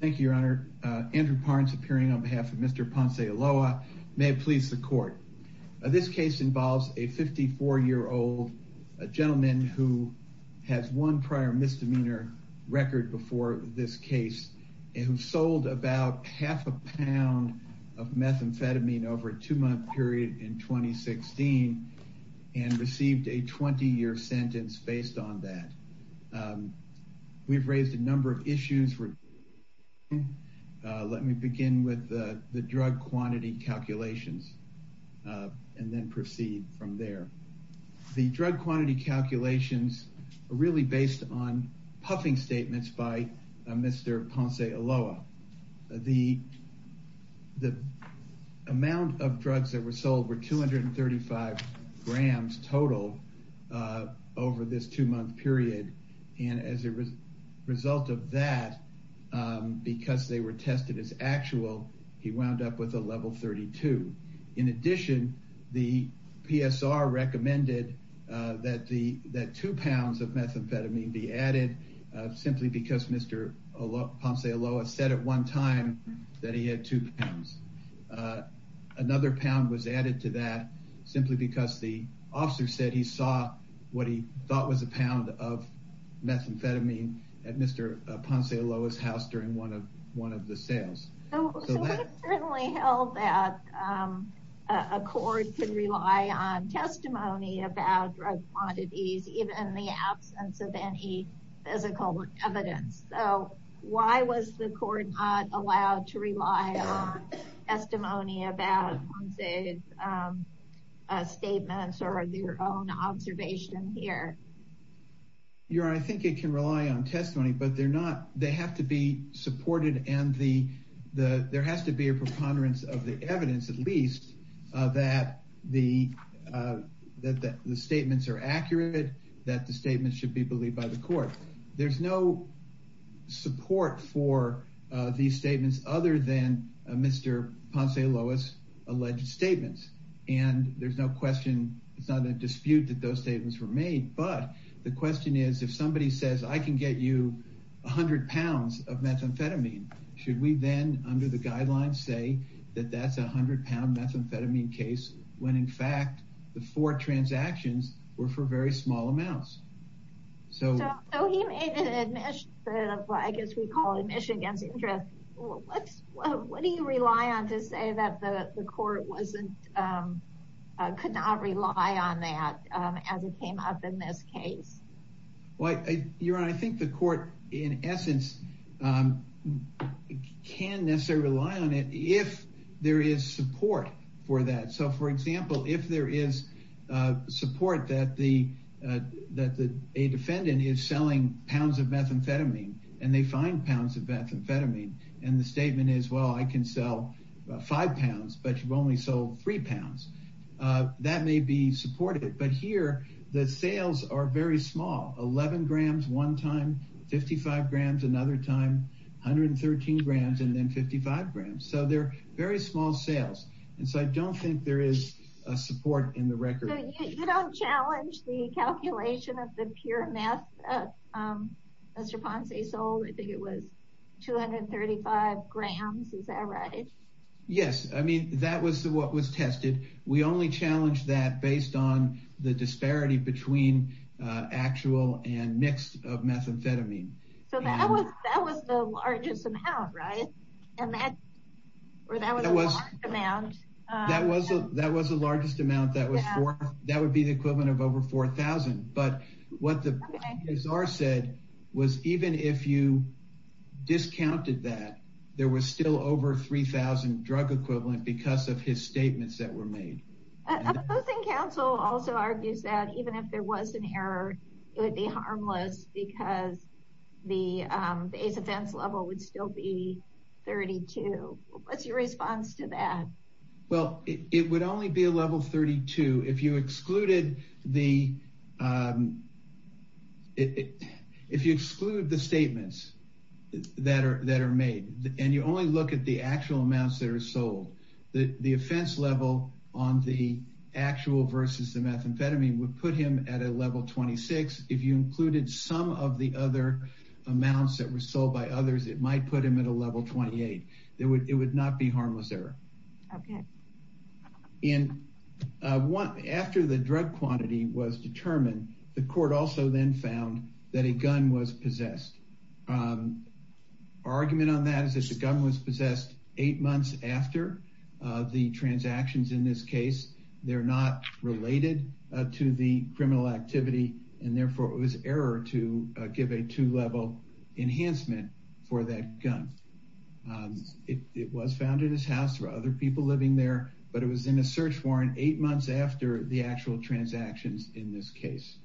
Thank you, Your Honor. Andrew Parnes appearing on behalf of Mr. Ponce-Ulloa. May it please the court. This case involves a 54-year-old gentleman who has one prior misdemeanor record before this case and who sold about half a pound of methamphetamine over a two-month period in 2016 and received a 20-year sentence based on that. We've raised a number of issues regarding methamphetamine. Let me begin with the drug quantity calculations and then proceed from there. The drug quantity calculations are really based on puffing statements by Mr. Ponce-Ulloa. The amount of drugs that were sold were 235 grams total over this two-month period. And as a result of that, because they were tested as actual, he wound up with a level 32. In addition, the PSR recommended that two pounds of methamphetamine be added simply because Mr. Ponce-Ulloa said at one time that he had two pounds. Another pound was added to that simply because the officer said he saw what he thought was a pound of methamphetamine at Mr. Ponce-Ulloa's house during one of the sales. I certainly held that a court could rely on testimony about drug quantities even in the absence of any physical evidence. So why was the court not allowed to rely on testimony about Mr. Ponce-Ulloa's statements or their own observation here? Your Honor, I think it can rely on testimony, but they have to be supported and there has to be a preponderance of the evidence at least that the statements are accurate, that the statements should be believed by the court. There's no support for these statements other than Mr. Ponce-Ulloa's alleged statements. And there's no question, it's not a dispute that those statements were made, but the question is if somebody says I can get you a hundred pounds of methamphetamine, should we then under the guidelines say that that's a hundred pound methamphetamine case when in fact the four transactions were for very small amounts? So he made an admission, I guess we call it admission against interest. What do you rely on to say that the court could not rely on that as it came up in this case? Your Honor, I think the court in essence can necessarily rely on it if there is support for that. So for example, if there is support that a defendant is selling pounds of methamphetamine and they find pounds of methamphetamine and the statement is well I can sell five pounds, but you've only sold three pounds, that may be supported. But here the sales are very small, 11 grams one time, 55 grams another time, 113 grams and then 55 grams. So they're very small sales and so I don't think there is a support in the record. So you don't challenge the calculation of the pure meth that Mr. Ponce sold? I think it was 235 grams, is that right? Yes, I mean that was what was tested. We only challenged that based on the disparity between actual and mixed methamphetamine. So that was the largest amount, right? That was the largest amount, that would be the equivalent of over 4,000. But what the PSR said was even if you discounted that, there was still over 3,000 drug equivalent because of his statements that were made. Opposing counsel also argues that even if there was an error, it would be harmless because the ACE offense level would still be 32. What's your response to that? Well, it would only be a level 32 if you excluded the statements that are made. And you only look at the actual amounts that are sold. The offense level on the actual versus the methamphetamine would put him at a level 26. If you included some of the other amounts that were sold by others, it might put him at a level 28. It would not be harmless error. Okay. After the drug quantity was determined, the court also then found that a gun was possessed. Argument on that is that the gun was possessed eight months after the transactions in this case. They're not related to the criminal activity. And therefore, it was error to give a two-level enhancement for that gun. It was found in his house. There were other people living there. But it was in a search warrant eight months after the actual transactions in this case.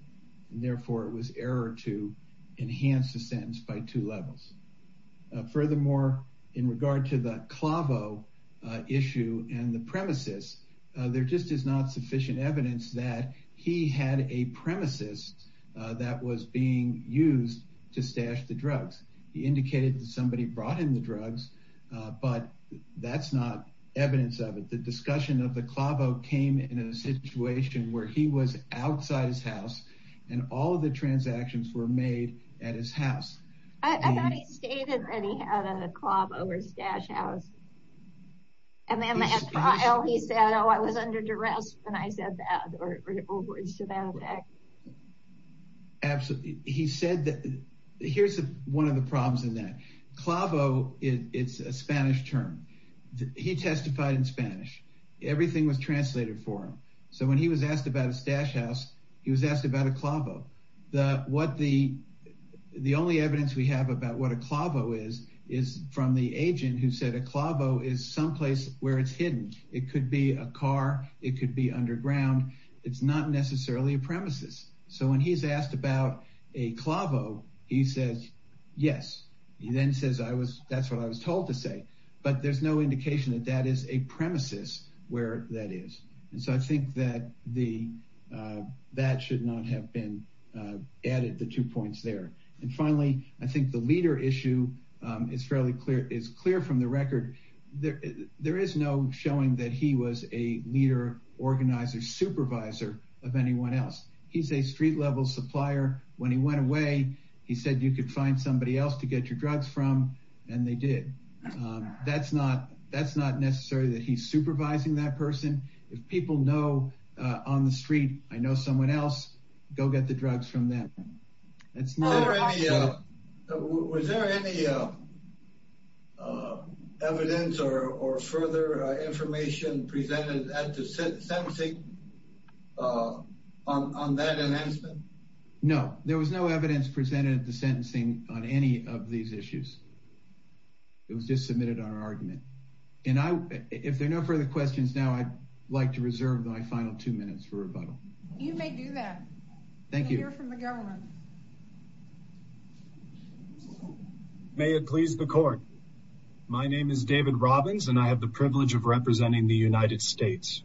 And therefore, it was error to enhance the sentence by two levels. Furthermore, in regard to the Clavo issue and the premises, there just is not sufficient evidence that he had a premises that was being used to stash the drugs. He indicated that somebody brought him the drugs, but that's not evidence of it. The discussion of the Clavo came in a situation where he was outside his house, and all of the transactions were made at his house. I thought he stated that he had a Clavo or stash house. And then at trial, he said, oh, I was under duress when I said that. Absolutely. Here's one of the problems in that. Clavo, it's a Spanish term. He testified in Spanish. Everything was translated for him. So when he was asked about a stash house, he was asked about a Clavo. The only evidence we have about what a Clavo is is from the agent who said a Clavo is someplace where it's hidden. It could be a car. It could be underground. It's not necessarily a premises. So when he's asked about a Clavo, he says yes. He then says that's what I was told to say. But there's no indication that that is a premises where that is. And so I think that that should not have been added, the two points there. And finally, I think the leader issue is clear from the record. There is no showing that he was a leader, organizer, supervisor of anyone else. He's a street-level supplier. When he went away, he said you could find somebody else to get your drugs from, and they did. That's not necessary that he's supervising that person. If people know on the street, I know someone else, go get the drugs from them. Was there any evidence or further information presented at the sentencing on that announcement? No, there was no evidence presented at the sentencing on any of these issues. It was just submitted on our argument. And if there are no further questions now, I'd like to reserve my final two minutes for rebuttal. You may do that. Thank you. We'll hear from the government. May it please the court. My name is David Robbins, and I have the privilege of representing the United States.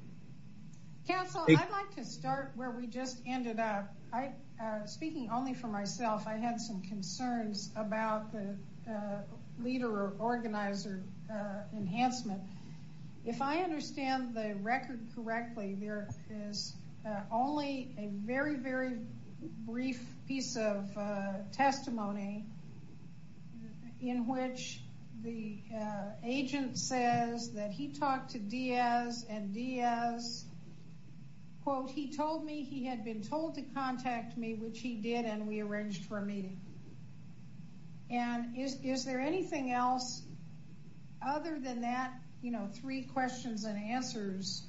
Counsel, I'd like to start where we just ended up. Speaking only for myself, I had some concerns about the leader or organizer enhancement. If I understand the record correctly, there is only a very, very brief piece of testimony in which the agent says that he talked to Diaz, and Diaz, quote, he told me he had been told to contact me, which he did, and we arranged for a meeting. And is there anything else other than that, you know, three questions and answers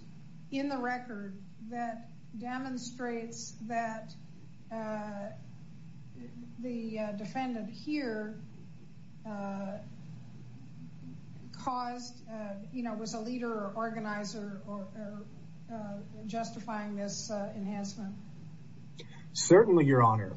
in the record that demonstrates that the defendant here caused, you know, was a leader or organizer or justifying this enhancement? Certainly, Your Honor.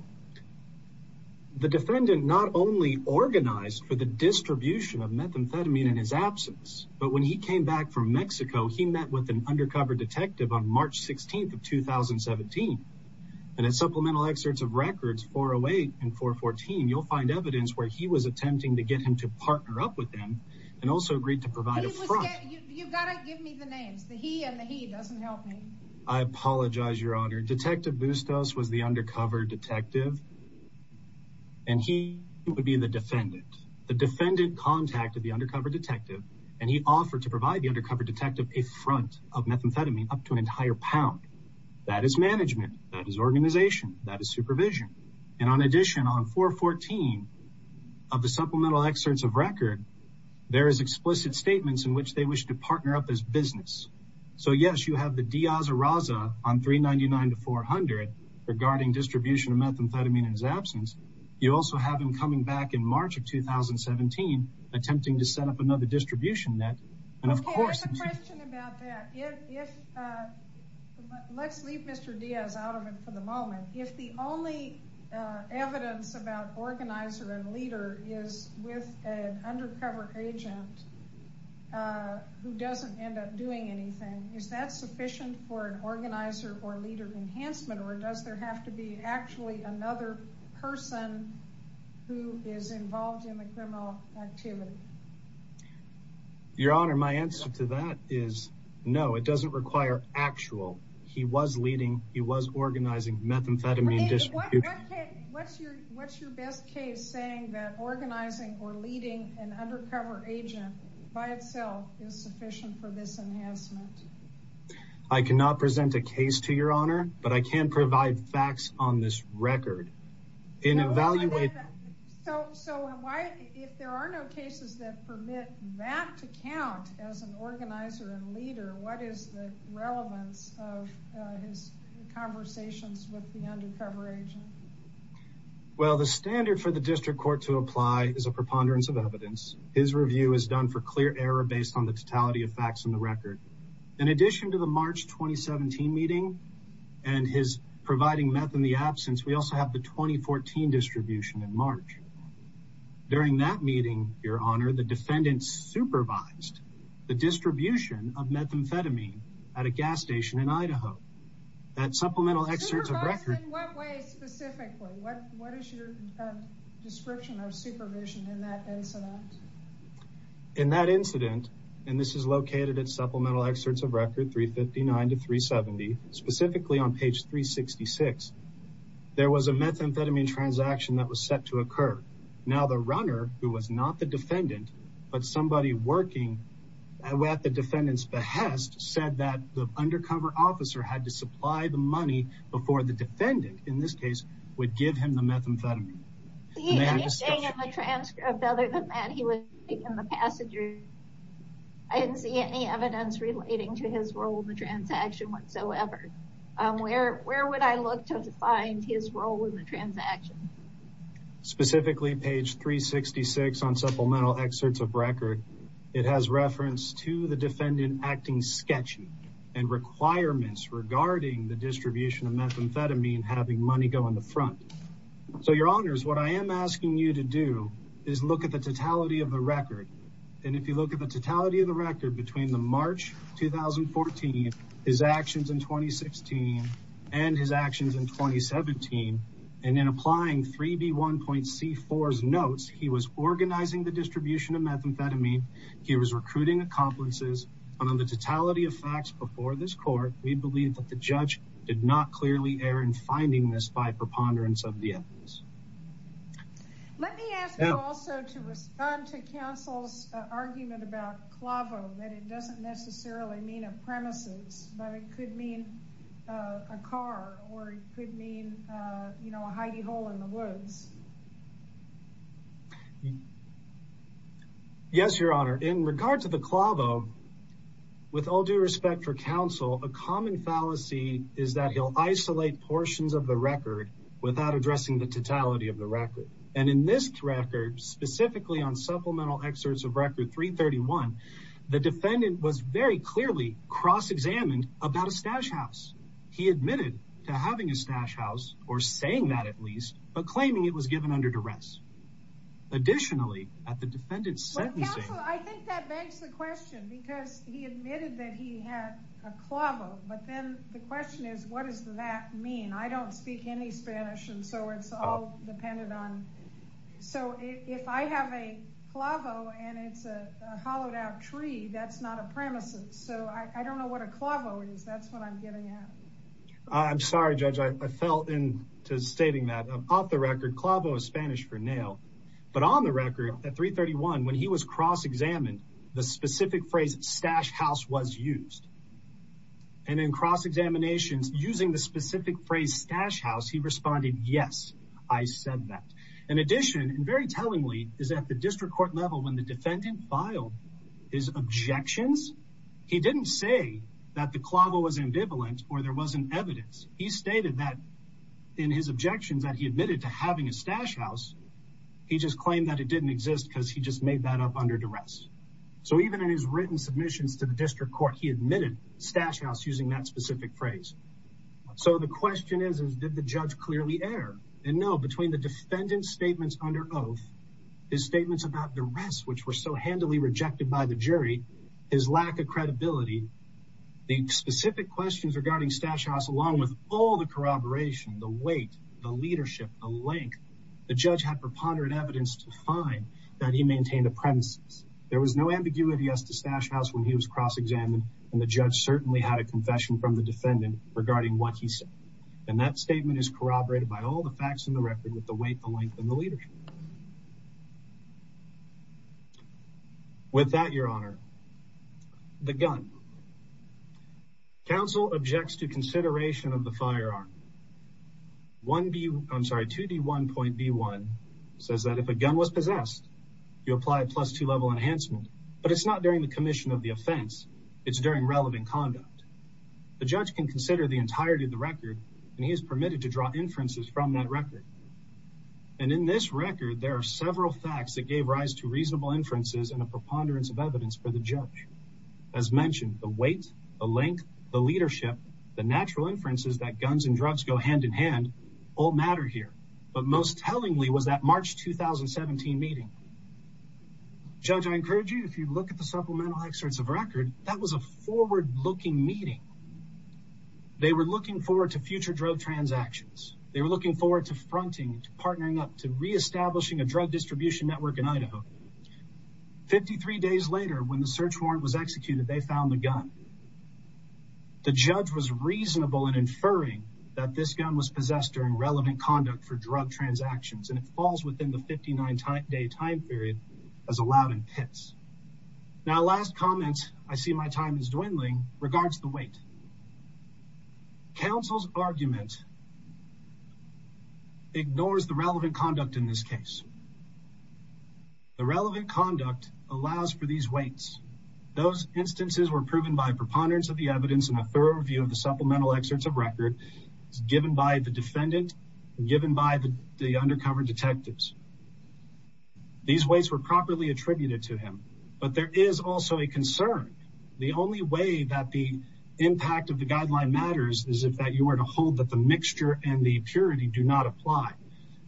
The defendant not only organized for the distribution of methamphetamine in his absence, but when he came back from Mexico, he met with an undercover detective on March 16th of 2017. And in supplemental excerpts of records 408 and 414, you'll find evidence where he was attempting to get him to partner up with them and also agreed to provide a front. You've got to give me the names. The he and the he doesn't help me. I apologize, Your Honor. Detective Bustos was the undercover detective, and he would be the defendant. The defendant contacted the undercover detective, and he offered to provide the undercover detective a front of methamphetamine up to an entire pound. That is management. That is organization. That is supervision. And on addition, on 414 of the supplemental excerpts of record, there is explicit statements in which they wish to partner up as business. So, yes, you have the Diaz Arraza on 399 to 400 regarding distribution of methamphetamine in his absence. You also have him coming back in March of 2017, attempting to set up another distribution net. And of course— There's a question about that. If—let's leave Mr. Diaz out of it for the moment. If the only evidence about organizer and leader is with an undercover agent who doesn't end up doing anything, is that sufficient for an organizer or leader enhancement, or does there have to be actually another person who is involved in the criminal activity? Your Honor, my answer to that is no. It doesn't require actual. He was leading. He was organizing methamphetamine distribution. What's your best case saying that organizing or leading an undercover agent by itself is sufficient for this enhancement? I cannot present a case to Your Honor, but I can provide facts on this record. In evaluating— So why—if there are no cases that permit that to count as an organizer and leader, what is the relevance of his conversations with the undercover agent? Well, the standard for the district court to apply is a preponderance of evidence. His review is done for clear error based on the totality of facts in the record. In addition to the March 2017 meeting and his providing methamphetamine in the absence, we also have the 2014 distribution in March. During that meeting, Your Honor, the defendant supervised the distribution of methamphetamine at a gas station in Idaho. That supplemental excerpt of record— Supervised in what way specifically? What is your description of supervision in that incident? In that incident, and this is located at supplemental excerpts of record 359 to 370, specifically on page 366, there was a methamphetamine transaction that was set to occur. Now the runner, who was not the defendant, but somebody working at the defendant's behest, said that the undercover officer had to supply the money before the defendant, in this case, would give him the methamphetamine. He was saying in the transcript other than that he was taking the passenger. I didn't see any evidence relating to his role in the transaction whatsoever. Where would I look to find his role in the transaction? Specifically, page 366 on supplemental excerpts of record. It has reference to the defendant acting sketchy and requirements regarding the distribution of methamphetamine having money go in the front. So, Your Honors, what I am asking you to do is look at the totality of the record. And if you look at the totality of the record between the March 2014, his actions in 2016, and his actions in 2017, and in applying 3B1.C4's notes, he was organizing the distribution of methamphetamine. He was recruiting accomplices. On the totality of facts before this court, we believe that the judge did not clearly err in finding this by preponderance of the evidence. Let me ask you also to respond to counsel's argument about clavo, that it doesn't necessarily mean a premises, but it could mean a car or it could mean, you know, a hidey hole in the woods. Yes, Your Honor, in regard to the clavo, with all due respect for counsel, a common fallacy is that he'll isolate portions of the record without addressing the totality of the record. And in this record, specifically on supplemental excerpts of record 331, the defendant was very clearly cross-examined about a stash house. He admitted to having a stash house or saying that at least, but claiming it was given under duress. Additionally, at the defendant's sentencing. I think that begs the question because he admitted that he had a clavo. But then the question is, what does that mean? I don't speak any Spanish, and so it's all dependent on. So if I have a clavo and it's a hollowed out tree, that's not a premises. So I don't know what a clavo is. That's what I'm getting at. I'm sorry, Judge, I fell into stating that off the record clavo is Spanish for nail. But on the record at 331, when he was cross-examined, the specific phrase stash house was used. And in cross-examinations using the specific phrase stash house, he responded. Yes, I said that. In addition, and very tellingly, is that the district court level when the defendant filed his objections. He didn't say that the clavo was ambivalent or there wasn't evidence. He stated that in his objections that he admitted to having a stash house. He just claimed that it didn't exist because he just made that up under duress. So even in his written submissions to the district court, he admitted stash house using that specific phrase. So the question is, did the judge clearly err? And no, between the defendant's statements under oath, his statements about duress, which were so handily rejected by the jury, his lack of credibility, the specific questions regarding stash house, along with all the corroboration, the weight, the leadership, the length, the judge had preponderant evidence to find that he maintained a premises. There was no ambiguity as to stash house when he was cross-examined, and the judge certainly had a confession from the defendant regarding what he said. And that statement is corroborated by all the facts in the record with the weight, the length, and the leadership. With that, Your Honor, the gun. Council objects to consideration of the firearm. 2D1.B1 says that if a gun was possessed, you apply a plus two level enhancement, but it's not during the commission of the offense. It's during relevant conduct. The judge can consider the entirety of the record, and he is permitted to draw inferences from that record. And in this record, there are several facts that gave rise to reasonable inferences and a preponderance of evidence for the judge. As mentioned, the weight, the length, the leadership, the natural inferences that guns and drugs go hand in hand all matter here. But most tellingly was that March 2017 meeting. Judge, I encourage you, if you look at the supplemental excerpts of record, that was a forward-looking meeting. They were looking forward to future drug transactions. They were looking forward to fronting, to partnering up, to reestablishing a drug distribution network in Idaho. 53 days later, when the search warrant was executed, they found the gun. The judge was reasonable in inferring that this gun was possessed during relevant conduct for drug transactions, and it falls within the 59-day time period as allowed in pits. Now, last comment, I see my time is dwindling, regards the weight. Council's argument ignores the relevant conduct in this case. The relevant conduct allows for these weights. Those instances were proven by preponderance of the evidence and a thorough review of the supplemental excerpts of record given by the defendant and given by the undercover detectives. These weights were properly attributed to him, but there is also a concern. The only way that the impact of the guideline matters is if that you were to hold that the mixture and the purity do not apply.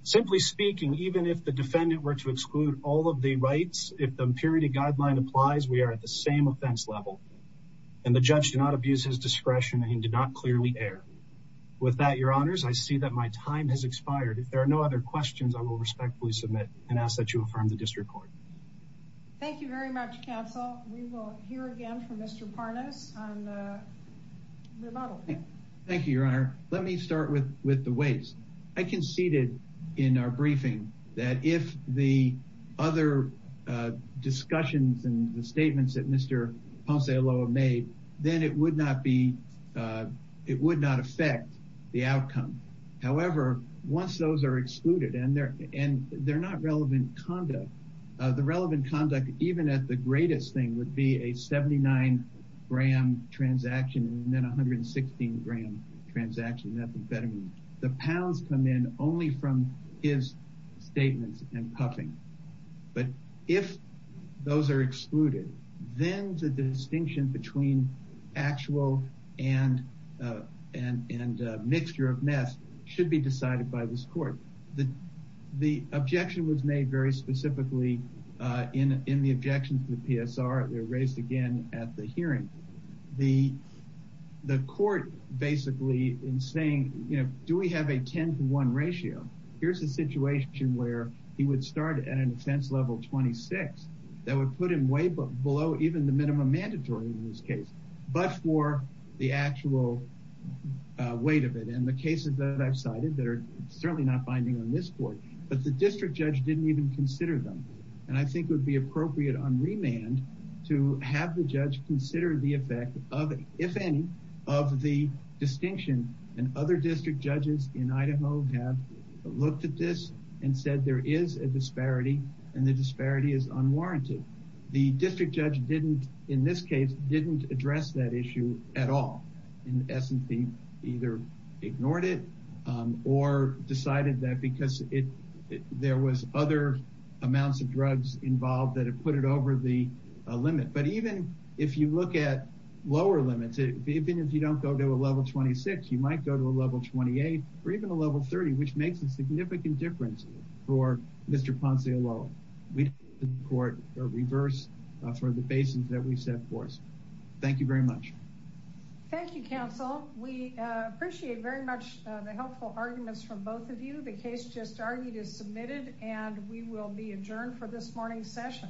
Simply speaking, even if the defendant were to exclude all of the rights, if the purity guideline applies, we are at the same offense level. And the judge did not abuse his discretion and he did not clearly err. With that, your honors, I see that my time has expired. If there are no other questions, I will respectfully submit and ask that you affirm the district court. Thank you very much, counsel. We will hear again from Mr. Parnas on the remodel. Thank you, your honor. Let me start with the weights. I conceded in our briefing that if the other discussions and the statements that Mr. Ponce-Aloa made, then it would not affect the outcome. However, once those are excluded and they're not relevant conduct, the relevant conduct, even at the greatest thing, would be a 79-gram transaction and then a 116-gram transaction. The pounds come in only from his statements and puffing. But if those are excluded, then the distinction between actual and mixture of meth should be decided by this court. The objection was made very specifically in the objections to the PSR. They were raised again at the hearing. The court basically in saying, you know, do we have a 10-to-1 ratio? Here's a situation where he would start at an offense level 26. That would put him way below even the minimum mandatory in this case, but for the actual weight of it. And the cases that I've cited that are certainly not binding on this court, but the district judge didn't even consider them. And I think it would be appropriate on remand to have the judge consider the effect of, if any, of the distinction. And other district judges in Idaho have looked at this and said there is a disparity and the disparity is unwarranted. The district judge didn't, in this case, didn't address that issue at all. In essence, he either ignored it or decided that because there was other amounts of drugs involved that have put it over the limit. But even if you look at lower limits, even if you don't go to a level 26, you might go to a level 28 or even a level 30, which makes a significant difference for Mr. Ponce-Alo. We support a reverse for the basis that we set forth. Thank you very much. Thank you, counsel. We appreciate very much the helpful arguments from both of you. The case just argued is submitted and we will be adjourned for this morning's session.